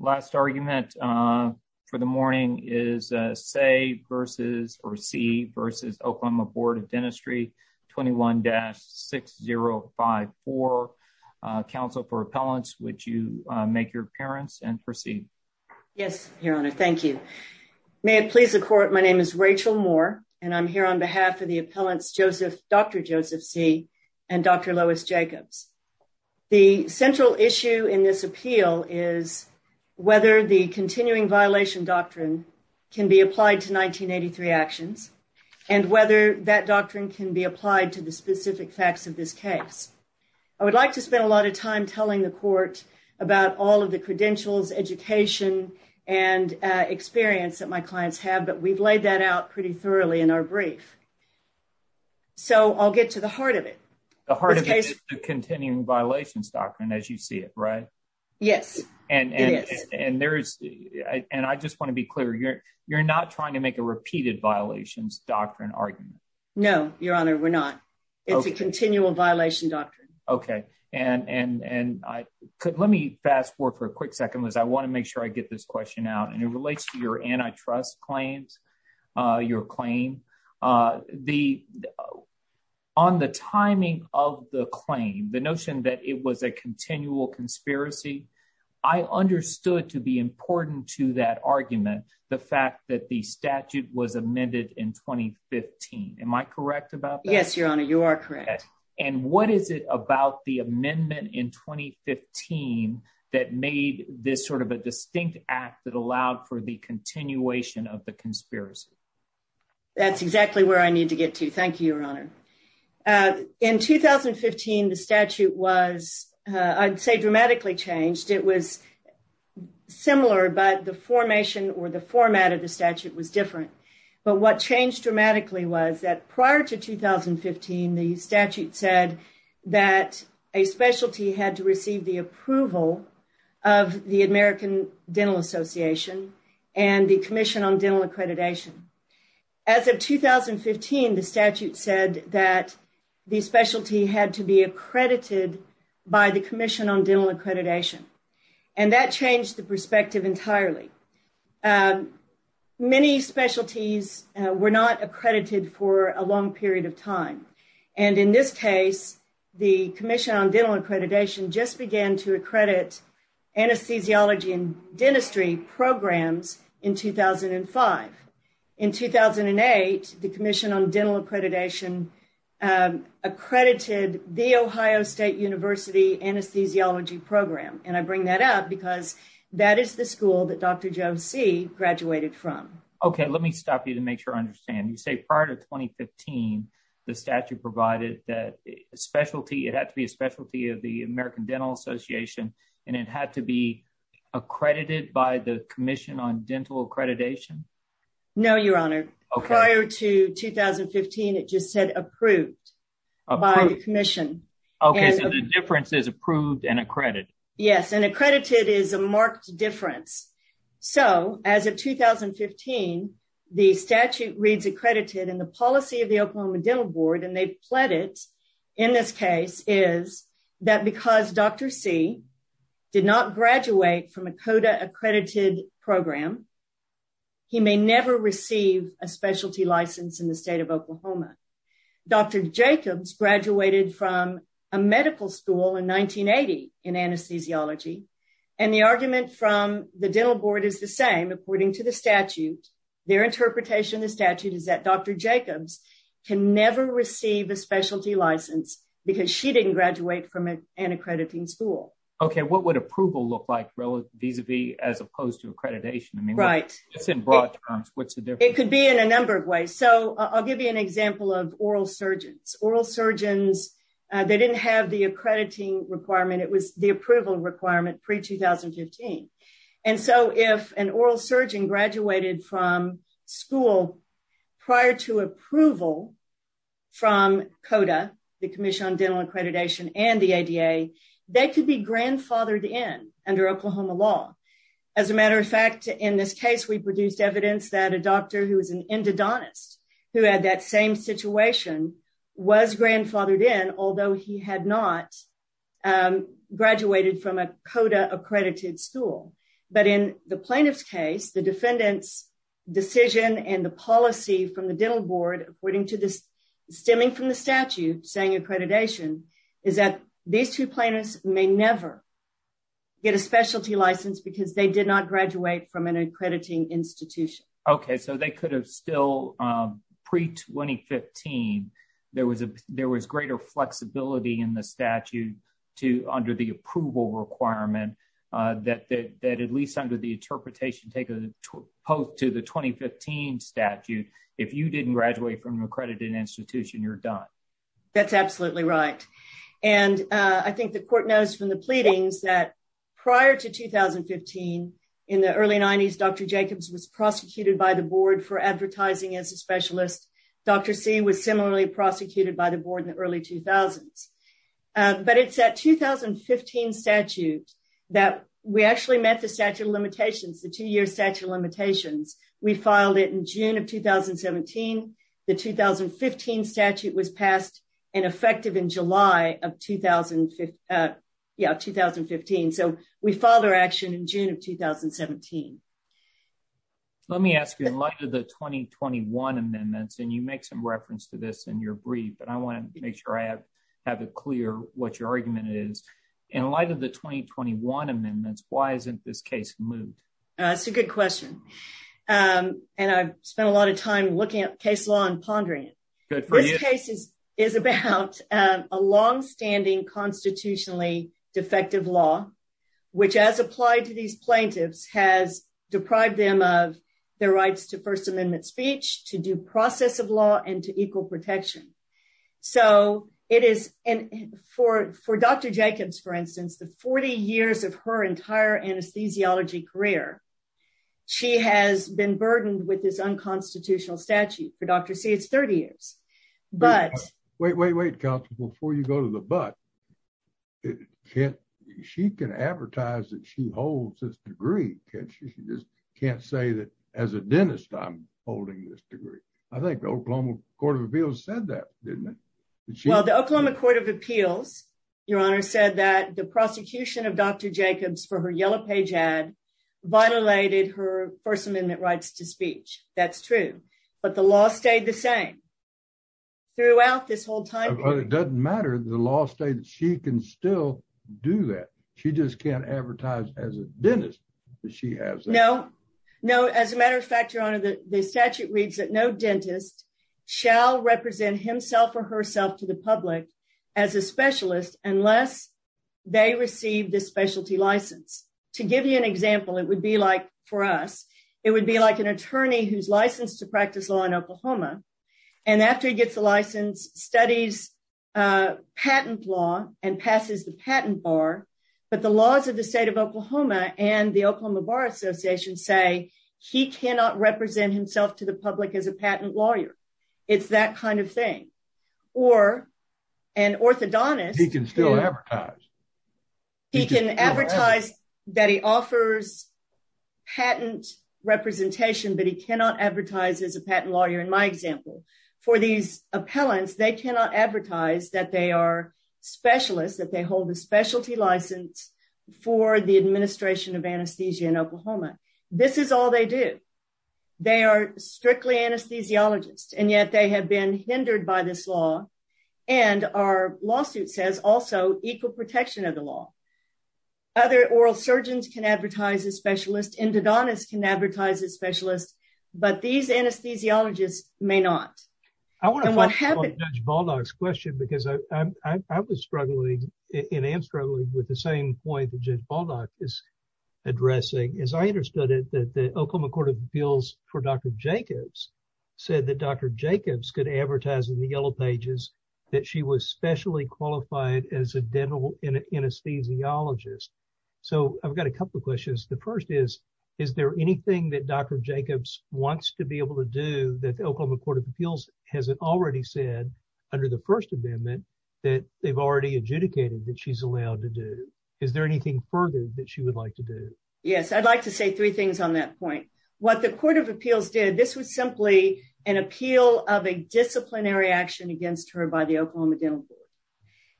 Last argument for the morning is Seay v. Oklahoma Board of Dentistry 21-6054. Counsel for Appellants, would you make your appearance and proceed? Yes, Your Honor. Thank you. May it please the Court, my name is Rachel Moore, and I'm here on behalf of the Appellants Dr. Joseph Seay and Dr. Lois Jacobs. The central issue in this appeal is whether the continuing violation doctrine can be applied to 1983 actions and whether that doctrine can be applied to the specific facts of this case. I would like to spend a lot of time telling the Court about all of the credentials, education, and experience that my clients have, but we've laid that out pretty thoroughly in our brief. So, I'll get to the heart of it. The heart of it is the continuing violations doctrine as you see it, right? Yes, it is. And I just want to be clear, you're not trying to make a repeated violations doctrine argument? No, Your Honor, we're not. It's a continual violation doctrine. Okay. Let me fast forward for a quick second because I want to make sure I get this question out, and it relates to your antitrust claims, your claim. On the timing of the claim, the notion that it was a continual conspiracy, I understood to be important to that argument the fact that the statute was amended in 2015. Am I correct about that? Yes, Your Honor, you are correct. And what is it about the amendment in 2015 that made this sort of a distinct act that allowed for the continuation of the conspiracy? That's exactly where I need to get to. Thank you, Your Honor. In 2015, the statute was, I'd say, dramatically changed. It was similar, but the formation or the format of the statute was different. But what changed dramatically was that prior to 2015, the statute said that a specialty had to receive the approval of the American Dental Association and the Commission on Dental Accreditation. As of 2015, the statute said that the specialty had to be accredited by the Commission on Dental Accreditation. And that changed the perspective entirely. Many specialties were not accredited for a long period of time. And in this case, the Commission on Dental Accreditation just began to accredit anesthesiology and dentistry programs in 2005. In 2008, the Commission on I bring that up because that is the school that Dr. Joe C. graduated from. Okay, let me stop you to make sure I understand. You say prior to 2015, the statute provided that a specialty, it had to be a specialty of the American Dental Association, and it had to be accredited by the Commission on Dental Accreditation? No, Your Honor. Prior to 2015, it just said approved by the Commission. Okay, so the difference is approved and accredited? Yes, and accredited is a marked difference. So as of 2015, the statute reads accredited in the policy of the Oklahoma Dental Board, and they pled it in this case is that because Dr. C. did not graduate from a CODA accredited program, he may never receive a specialty license in the medical school in 1980 in anesthesiology. And the argument from the Dental Board is the same, according to the statute. Their interpretation of the statute is that Dr. Jacobs can never receive a specialty license because she didn't graduate from an accrediting school. Okay, what would approval look like vis-a-vis as opposed to accreditation? I mean, it's in broad terms, what's the difference? It could be in a number of ways. So I'll give you an example of oral surgeons. Oral surgeons they didn't have the accrediting requirement. It was the approval requirement pre-2015. And so if an oral surgeon graduated from school prior to approval from CODA, the Commission on Dental Accreditation and the ADA, they could be grandfathered in under Oklahoma law. As a matter of fact, in this case, we produced evidence that a doctor who was an endodontist, who had that same situation, was grandfathered in, although he had not graduated from a CODA accredited school. But in the plaintiff's case, the defendant's decision and the policy from the Dental Board, stemming from the statute saying accreditation, is that these two plaintiffs may never get a specialty license because they did not graduate from an accrediting institution. Okay, so they could have still pre-2015. There was greater flexibility in the statute under the approval requirement that at least under the interpretation taken post to the 2015 statute, if you didn't graduate from an accredited institution, you're done. That's absolutely right. And I think the court knows from the pleadings that prior to 2015, in the early 90s, Dr. Jacobs was prosecuted by the board for advertising as a specialist. Dr. C was similarly prosecuted by the board in the early 2000s. But it's that 2015 statute that we actually met the statute of limitations, the two-year statute of limitations. We filed it in June of 2017. The 2015 statute was passed and effective in July of 2015. So we filed our action in June of 2017. Let me ask you, in light of the 2021 amendments, and you make some reference to this in your brief, but I want to make sure I have it clear what your argument is. In light of the 2021 amendments, why isn't this case moved? That's a good question. And I've spent a lot of time looking at case law and pondering it. This case is about a long-standing constitutionally defective law, which as applied to these plaintiffs, has deprived them of their rights to First Amendment speech, to due process of law, and to equal protection. So it is for Dr. Jacobs, for instance, the 40 years of her entire anesthesiology career, she has been burdened with this unconstitutional statute. For Before you go to the but, she can advertise that she holds this degree. She just can't say that as a dentist, I'm holding this degree. I think the Oklahoma Court of Appeals said that, didn't it? Well, the Oklahoma Court of Appeals, Your Honor, said that the prosecution of Dr. Jacobs for her yellow page ad violated her First Amendment rights to speech. That's true. But the law stayed the same throughout this whole time period. But it doesn't matter. The law states she can still do that. She just can't advertise as a dentist that she has that. No, no. As a matter of fact, Your Honor, the statute reads that no dentist shall represent himself or herself to the public as a specialist unless they receive the specialty license. To give you an example, it would be like for us. It would be like an attorney who's licensed to practice law in Oklahoma. And after he gets the license, studies patent law and passes the patent bar. But the laws of the state of Oklahoma and the Oklahoma Bar Association say he cannot represent himself to the public as a patent lawyer. It's that kind of thing. Or an orthodontist. He can still advertise. He can advertise that he offers patent representation, but he cannot advertise as a patent lawyer. In my example, for these appellants, they cannot advertise that they are specialists, that they hold a specialty license for the administration of anesthesia in Oklahoma. This is all they do. They are strictly anesthesiologists, and yet they have been the law. Other oral surgeons can advertise as specialists. Endodontists can advertise as specialists, but these anesthesiologists may not. I want to follow up on Judge Baldock's question because I was struggling and am struggling with the same point that Judge Baldock is addressing. As I understood it, that the Oklahoma Court of Appeals for Dr. Jacobs said that Dr. Jacobs could advertise in the yellow pages that she was specially qualified as a dental anesthesiologist. So, I've got a couple of questions. The first is, is there anything that Dr. Jacobs wants to be able to do that the Oklahoma Court of Appeals hasn't already said under the First Amendment that they've already adjudicated that she's allowed to do? Is there anything further that she would like to do? Yes, I'd like to say three things on that point. What the Court of Appeals did, this was simply an appeal of a disciplinary action against her by the Oklahoma Dental Board,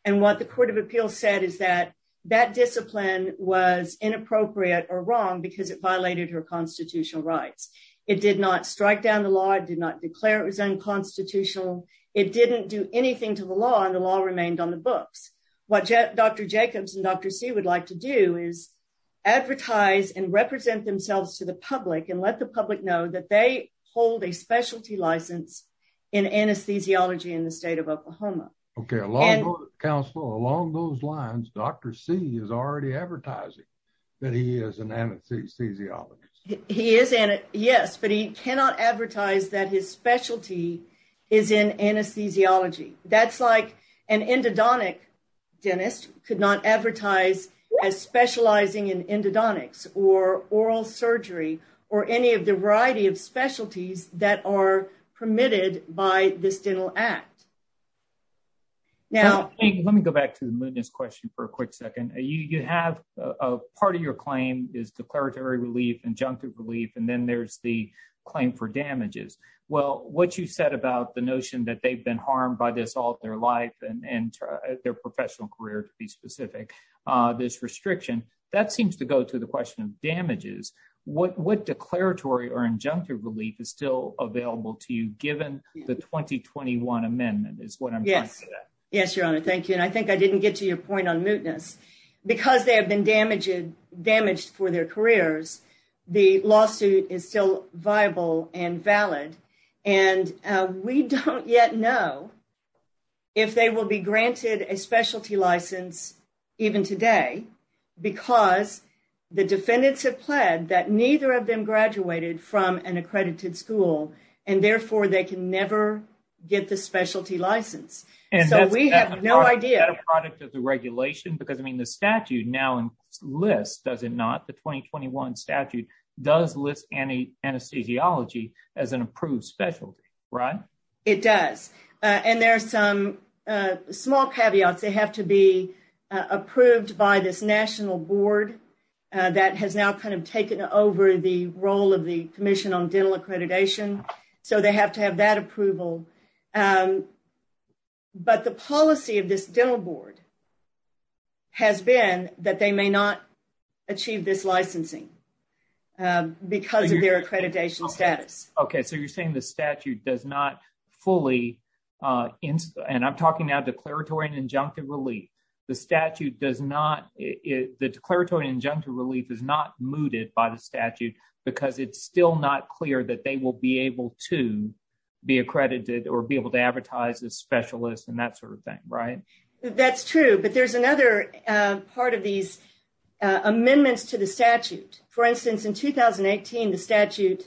and what the Court of Appeals said is that that discipline was inappropriate or wrong because it violated her constitutional rights. It did not strike down the law. It did not declare it was unconstitutional. It didn't do anything to the law, and the law remained on the books. What Dr. Jacobs and Dr. C would like to do is advertise and represent themselves to the public and let the public know that they hold a specialty license in anesthesiology in the state of Oklahoma. Okay, along those lines, Dr. C is already advertising that he is an anesthesiologist. He is, yes, but he cannot advertise that his specialty is in anesthesiology. That's like an endodontic dentist could not advertise as specializing in by this dental act. Now, let me go back to the moodiness question for a quick second. You have a part of your claim is declaratory relief, injunctive relief, and then there's the claim for damages. Well, what you said about the notion that they've been harmed by this all their life and their professional career to be specific, this restriction, that seems to go to the question of damages. What declaratory or injunctive relief is still available to you given the 2021 amendment is what I'm talking about. Yes, your honor. Thank you, and I think I didn't get to your point on moodiness. Because they have been damaged for their careers, the lawsuit is still viable and valid, and we don't yet know if they will be granted a specialty license even today because the defendants have pled that neither of them graduated from an accredited school, and therefore they can never get the specialty license. So, we have no idea. Is that a product of the regulation? Because, I mean, the statute now lists, does it not, the 2021 statute does list anesthesiology as an approved specialty, right? It does, and there are some caveats. They have to be approved by this national board that has now kind of taken over the role of the Commission on Dental Accreditation, so they have to have that approval. But the policy of this dental board has been that they may not achieve this licensing because of their accreditation status. Okay, so you're saying the statute does not fully, and I'm talking now declaratory and injunctive relief, the statute does not, the declaratory injunctive relief is not mooted by the statute because it's still not clear that they will be able to be accredited or be able to advertise as specialists and that sort of thing, right? That's true, but there's another part of these amendments to the statute. For instance, in 2018, the statute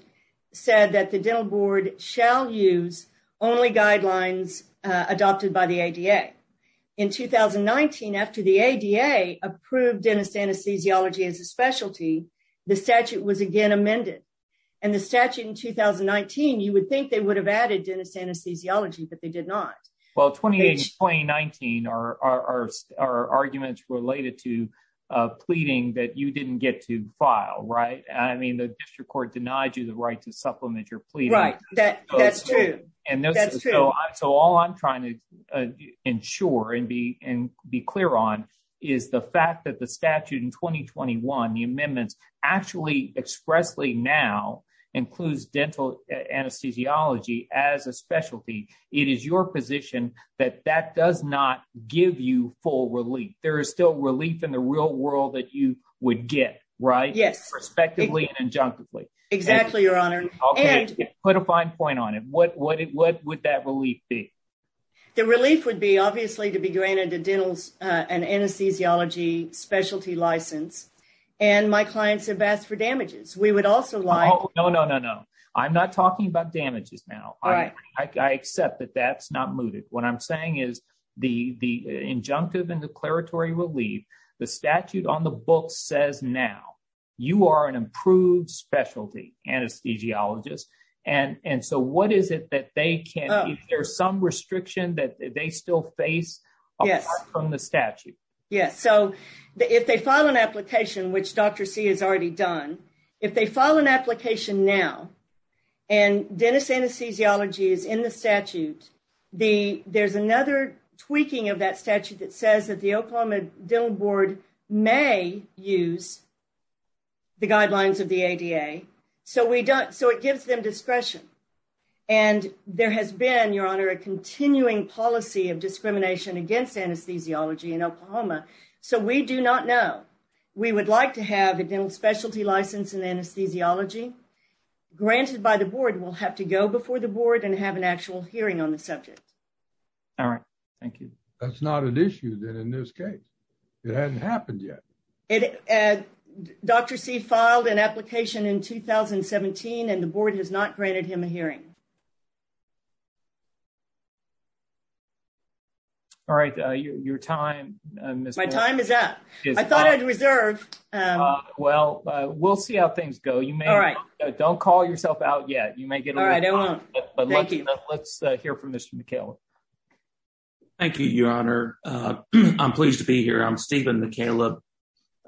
said that the dental board shall use only guidelines adopted by the ADA. In 2019, after the ADA approved dentist anesthesiology as a specialty, the statute was again amended, and the statute in 2019, you would think they would have added dentist anesthesiology, but they did not. Well, 2018 and 2019 are arguments related to pleading that you didn't get to file, right? I mean, the district court denied you the right to supplement your pleading. Right, that's true. So all I'm trying to ensure and be clear on is the fact that the statute in 2021, the amendments actually expressly now includes dental anesthesiology as a specialty. It is your position that that does not give you full relief. There is still relief in the world that you would get, right? Yes. Perspectively and injunctively. Exactly, Your Honor. Okay, put a fine point on it. What would that relief be? The relief would be obviously to be granted a dental and anesthesiology specialty license, and my clients have asked for damages. We would also like- Oh, no, no, no, no. I'm not talking about damages now. I accept that that's not mooted. What I'm saying is the injunctive and declaratory relief, the statute on the book says now, you are an improved specialty anesthesiologist. And so what is it that they can, if there's some restriction that they still face apart from the statute? Yes. So if they file an application, which Dr. C has already done, if they file an application now and dental anesthesiology is in the statute, there's another tweaking of that statute that says that the Oklahoma Dental Board may use the guidelines of the ADA. So it gives them discretion. And there has been, Your Honor, a continuing policy of discrimination against anesthesiology in Oklahoma. So we do not know. We would like to have a dental specialty license in anesthesiology granted by the board. We'll have to go before the board and have an actual hearing on the subject. All right. Thank you. That's not an issue then in this case. It hasn't happened yet. Dr. C filed an application in 2017 and the board has not granted him a hearing. All right. Your time, Ms. Moore. My time is up. I thought I'd reserve. Well, we'll see how things go. You may. All right. Don't call yourself out yet. You may get. All right. I won't. But let's hear from Mr. McCaleb. Thank you, Your Honor. I'm pleased to be here. I'm Stephen McCaleb.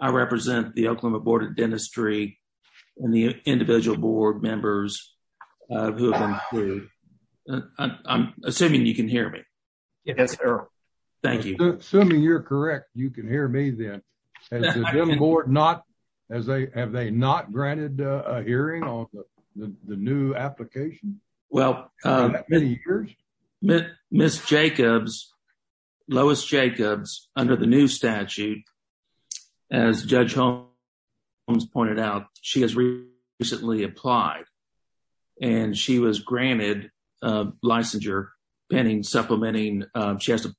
I represent the Oklahoma Board of Dentistry and the individual board members. I'm assuming you can hear me. Yes, sir. Thank you. Assuming you're correct, you can hear me then. Has the board not, have they not granted a hearing on the new application? Well, Ms. Jacobs, Lois Jacobs, under the new statute, as Judge Holmes pointed out, she has recently applied and she was granted a licensure pending supplementing. She has to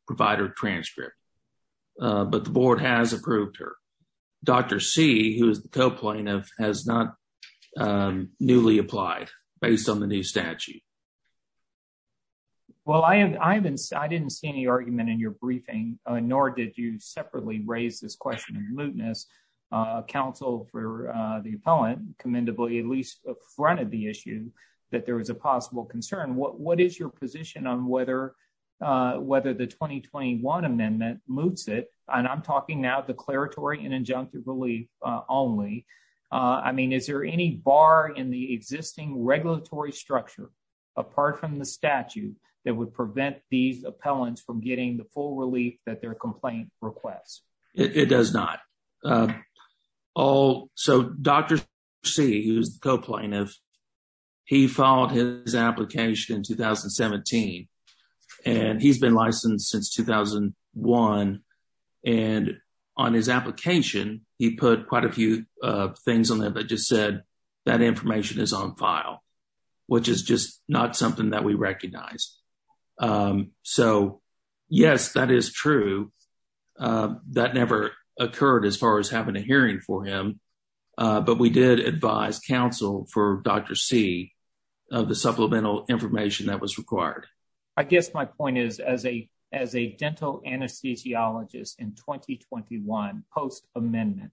transcript. But the board has approved her. Dr. C, who is the co-plaintiff, has not newly applied based on the new statute. Well, I didn't see any argument in your briefing, nor did you separately raise this question in remoteness. Counsel for the appellant, commendably, at least up front of the issue, that there was a possible concern. What is your amendment that moots it? And I'm talking now declaratory and injunctive relief only. I mean, is there any bar in the existing regulatory structure, apart from the statute, that would prevent these appellants from getting the full relief that their complaint requests? It does not. So Dr. C, who is the co-plaintiff, he filed his application in 2017, and he's been licensed since 2001. And on his application, he put quite a few things on there that just said that information is on file, which is just not something that we recognize. So yes, that is true. That never occurred as far as having a hearing for him. But we did advise counsel for Dr. C of the supplemental information that was required. I guess my point is, as a dental anesthesiologist in 2021, post-amendment,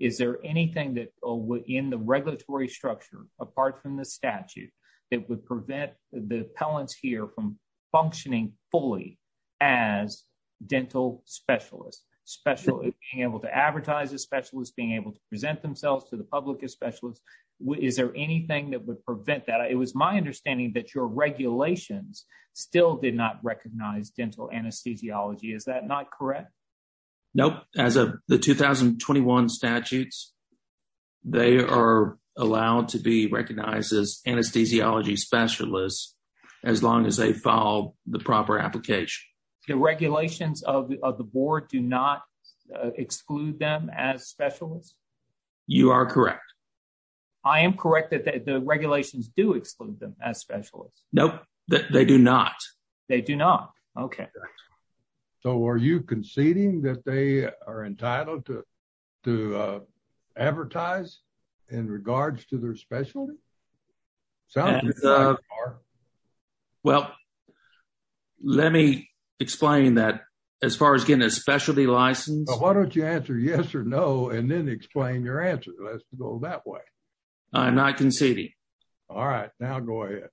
is there anything that in the regulatory structure, apart from the statute, that would prevent the appellants here from functioning fully as dental specialists? Specialists being able to advertise as specialists, being able to present themselves to the public as specialists. Is there anything that would prevent that? It was my understanding that your regulations still did not recognize dental anesthesiology. Is that not correct? Nope. As of the 2021 statutes, they are allowed to be recognized as anesthesiology specialists, as long as they the proper application. The regulations of the board do not exclude them as specialists? You are correct. I am correct that the regulations do exclude them as specialists? Nope, they do not. They do not. Okay. So are you conceding that they are entitled to advertise in regards to their specialty? Well, let me explain that as far as getting a specialty license. Why don't you answer yes or no and then explain your answer. Let's go that way. I'm not conceding. All right, now go ahead.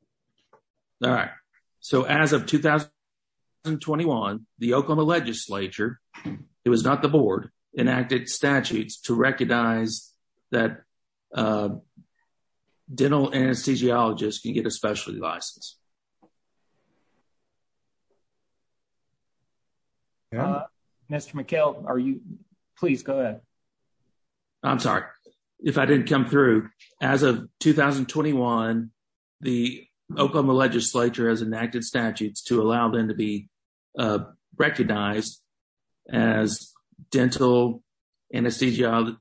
All right. So as of 2021, the Oklahoma legislature, it was not the board, enacted statutes to recognize that dental anesthesiologists can get a specialty license. Mr. McKell, please go ahead. I'm sorry if I didn't come through. As of 2021, the Oklahoma legislature has enacted statutes to allow them to be recognized as dental anesthesiologists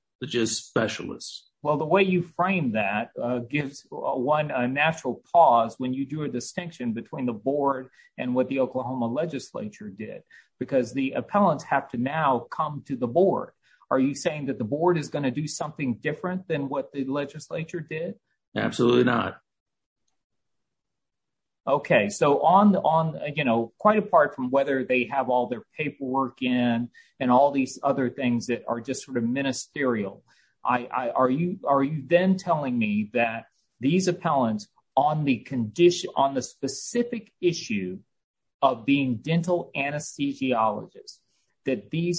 specialists. Well, the way you frame that gives one a natural pause when you do a distinction between the board and what the Oklahoma legislature did, because the appellants have to now come to the board. Are you saying that the board is going to do something different than the legislature did? Absolutely not. Okay. So quite apart from whether they have all their paperwork in and all these other things that are just sort of ministerial, are you then telling me that these appellants on the specific issue of being dental anesthesiologists, that these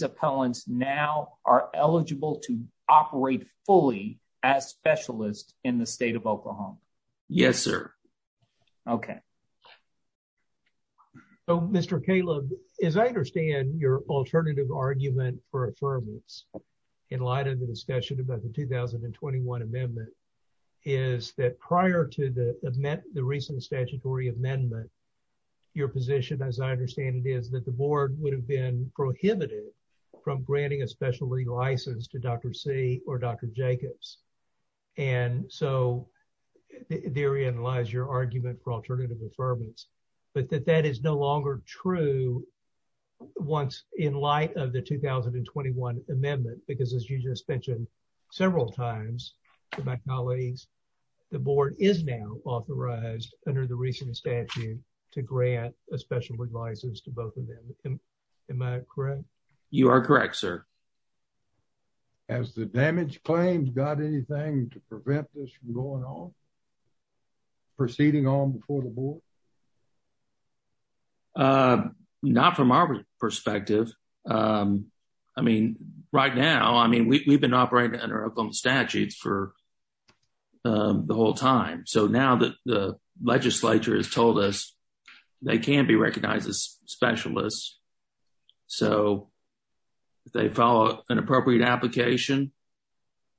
specialists in the state of Oklahoma? Yes, sir. Okay. So, Mr. Caleb, as I understand your alternative argument for affirmance in light of the discussion about the 2021 amendment, is that prior to the recent statutory amendment, your position, as I understand it, is that the board would have been prohibited from granting a specialty license to Dr. C or Dr. Jacobs. And so therein lies your argument for alternative affirmance, but that that is no longer true once in light of the 2021 amendment, because as you just mentioned several times to my colleagues, the board is now authorized under the recent statute to grant a specialty license to both of them. Am I correct? You are correct, sir. Has the damage claims got anything to prevent this from going on, proceeding on before the board? Not from our perspective. I mean, right now, I mean, we've been operating under Oklahoma statutes for the whole time. So now that the legislature has told us they can be recognized as specialists, so they follow an appropriate application,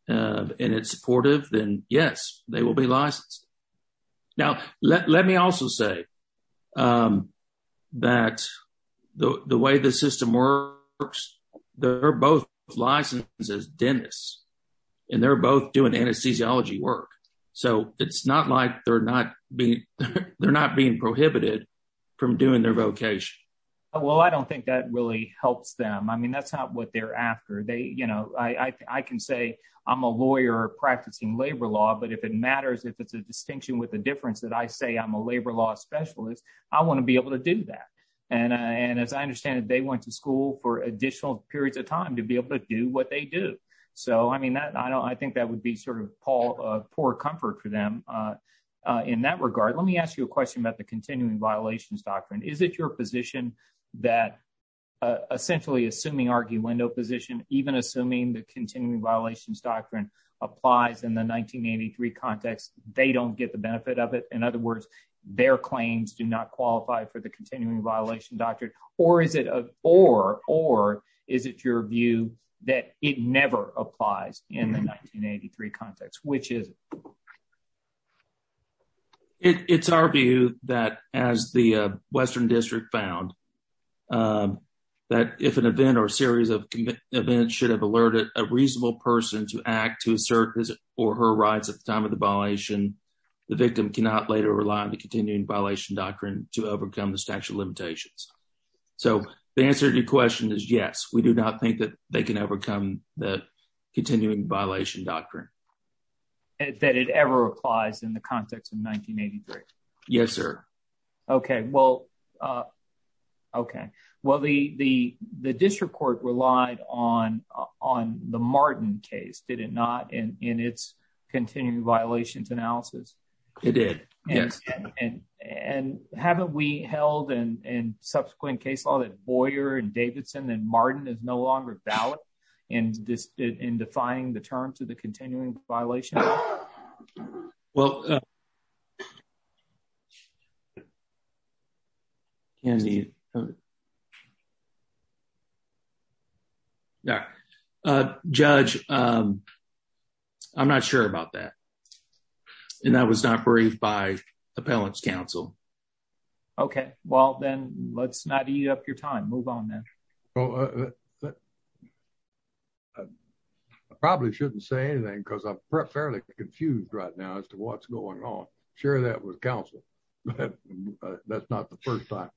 and it's supportive, then yes, they will be licensed. Now, let me also say that the way the system works, they're both licensed as dentists, and they're both doing anesthesiology work. So it's not like they're not being prohibited from doing their vocation. Well, I don't think that really helps them. I mean, that's not what they're after. They, you know, I can say I'm a lawyer practicing labor law, but if it matters, if it's a distinction with a difference that I say I'm a labor law specialist, I want to be able to do that. And as I understand it, they went to school for additional periods of time to be able to do what they do. So I mean, that I don't I think that would be sort of Paul, poor comfort for them. In that regard, let me ask you a question about the continuing violations doctrine. Is it your position that essentially assuming argue window position, even assuming the continuing violations doctrine applies in the 1983 context, they don't get the benefit of it? In other words, their claims do not qualify for the continuing violation doctrine? Or is it a or or is it your view that it never applies in the 1983 context, which is? It's our view that as the Western District found that if an event or series of events should have alerted a reasonable person to act to assert his or her rights at the time of the violation, the victim cannot later rely on the continuing violation doctrine to overcome the statute limitations. So the answer to your question is yes, we do not think that they can overcome the continuing violation doctrine. That it ever applies in the context of 1983. Yes, sir. Okay, well. Okay, well, the the the district court relied on on the Martin case, did it not in its continuing violations analysis? It did, yes. And and haven't we held in in subsequent case law that Boyer and Davidson and Martin is no longer valid in this in defying the terms of the continuing violation? Well. Candy. Yeah, judge. I'm not sure about that. And that was not briefed by Appellants Council. Okay, well, then let's not eat up your time. Move on then. I probably shouldn't say anything because I'm fairly confused right now as to what's going on. Sure, that was counsel. That's not the first time.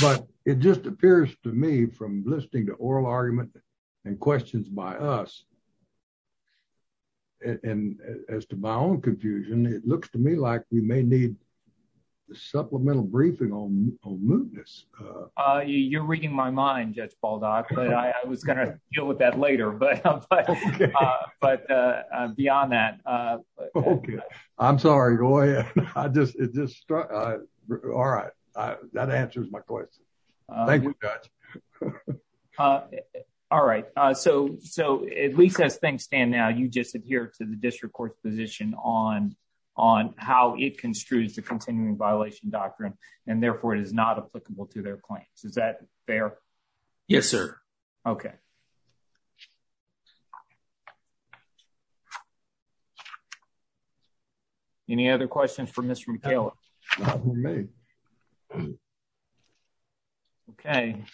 But it just appears to me from listening to oral argument and questions by us. And as to my own confusion, it looks to me like we may need supplemental briefing on on mootness. You're reading my mind, Judge Baldock, but I was gonna deal with that later. But But beyond that, I'm sorry, go ahead. I just it just struck. All right. That answers my question. Thank you. All right. So So at least as things stand now, you just adhere to the district court's position on how it construes the continuing violation doctrine, and therefore it is not applicable to their claims. Is that fair? Yes, sir. Okay. Any other questions for Mr. McKayla? Okay.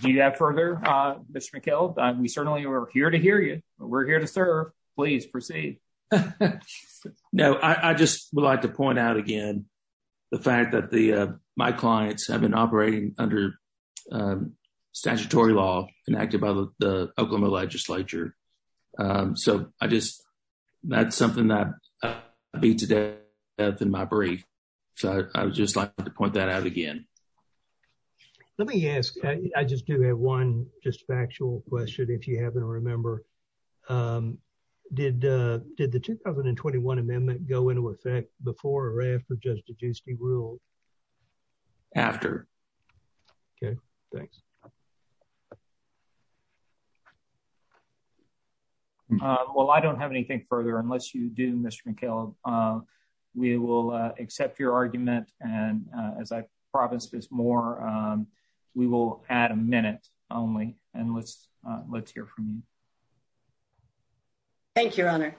Do you have further Mr. McKayla? We certainly are here to hear you. We're here to please proceed. No, I just would like to point out again, the fact that the my clients have been operating under statutory law enacted by the Oklahoma legislature. So I just, that's something that beat to death in my brief. So I would just like to point that out again. Let me ask, I just have one just factual question, if you happen to remember. Did did the 2021 amendment go into effect before or after just reduced the rule? After? Okay, thanks. Well, I don't have anything further unless you do, Mr. McKayla. We will accept your argument. And as I promise this more, we will add a minute only. And let's hear from you. Thank you, your honor.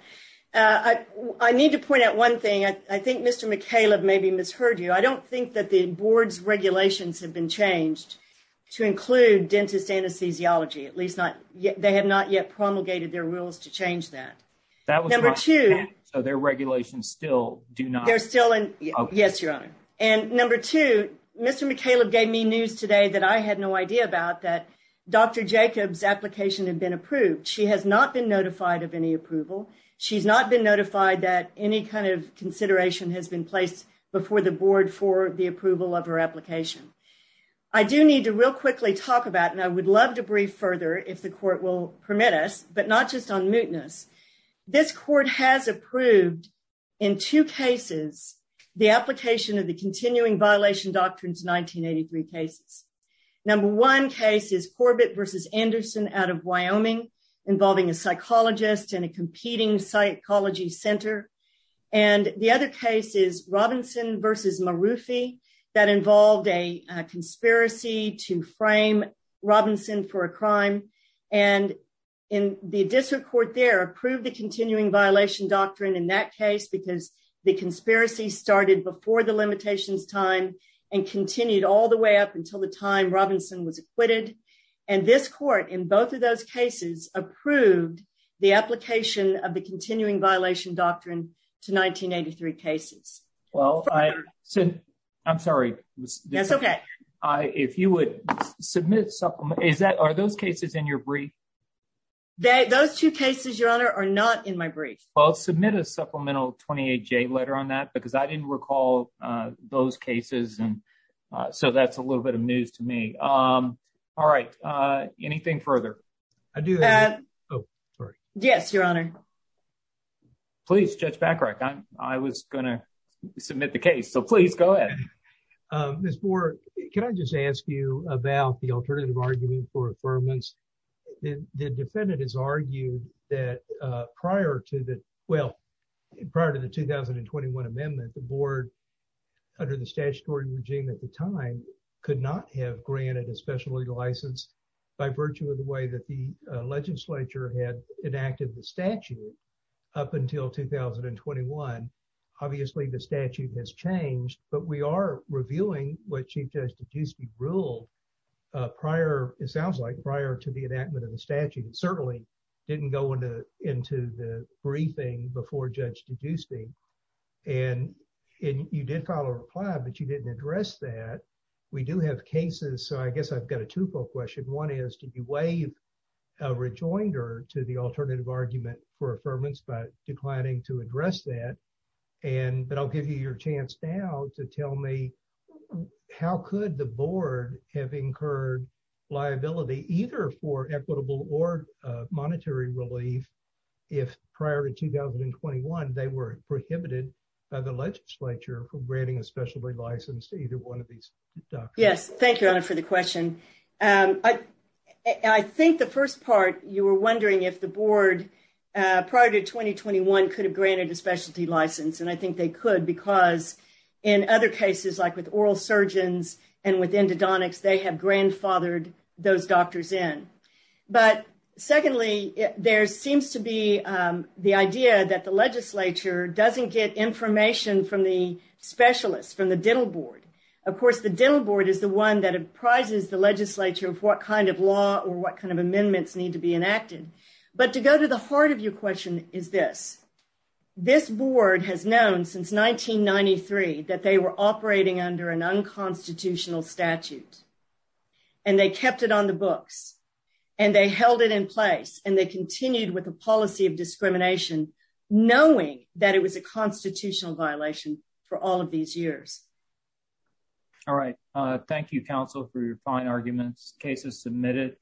I need to point out one thing. I think Mr. McKayla maybe misheard you. I don't think that the board's regulations have been changed to include dentist anesthesiology, at least not yet. They have not yet promulgated their rules to change that. That was number two. So their regulations still do not. Yes, your honor. And number two, Mr. McKayla gave me news today that I had no idea about that Dr. Jacobs application had been approved. She has not been notified of any approval. She's not been notified that any kind of consideration has been placed before the board for the approval of her application. I do need to real quickly talk about, and I would love to brief further if the court will permit us, but not just on mootness. This court has approved in two cases, the application of the continuing violation doctrines, 1983 cases. Number one case is Corbett versus Anderson out of Wyoming, involving a psychologist and a competing psychology center. And the other case is Robinson versus Marufi that involved a conspiracy to frame Robinson for a crime. And in the district court there approved the continuing doctrine in that case because the conspiracy started before the limitations time and continued all the way up until the time Robinson was acquitted. And this court in both of those cases approved the application of the continuing violation doctrine to 1983 cases. Well, I said, I'm sorry. That's okay. If you would submit supplement, is that, are those cases in your brief? Those two cases, your honor, are not in my brief. I'll submit a supplemental 28J letter on that because I didn't recall those cases. And so that's a little bit of news to me. All right. Anything further? I do that. Oh, sorry. Yes, your honor. Please judge Bacarach. I was going to submit the case. So please go ahead. Ms. Moore, can I just ask you about the alternative argument for affirmance? The defendant has argued that prior to the, well, prior to the 2021 amendment, the board under the statutory regime at the time could not have granted a special legal license by virtue of the way that the legislature had enacted the statute up until 2021. Obviously the statute has changed, but we are reviewing what Chief Judge DeGiuste ruled prior, it sounds like prior to the enactment of the statute. It certainly didn't go into the briefing before Judge DeGiuste. And you did file a reply, but you didn't address that. We do have cases. So I guess I've got a two-fold question. One is, did you rejoin her to the alternative argument for affirmance by declining to address that? But I'll give you your chance now to tell me how could the board have incurred liability either for equitable or monetary relief if prior to 2021, they were prohibited by the legislature for granting a specialty license to either one of these doctors? Yes. Thank you, your honor, for the question. I think the first part, you were wondering if the board prior to 2021 could have granted a specialty license. And I think they could because in other cases, like with oral surgeons and with endodontics, they have grandfathered those doctors in. But secondly, there seems to be the idea that the legislature doesn't get information from the specialists, from the dental board. Of course, the dental board is the one that apprises the legislature of what kind of law or what kind of amendments need to be enacted. But to go to the heart of your question is this. This board has known since 1993 that they were operating under an unconstitutional statute. And they kept it on the books. And they held it in place. And they continued with a policy of discrimination, knowing that it was a constitutional violation for all of these years. All right. Thank you, counsel, for your fine arguments. Case is submitted.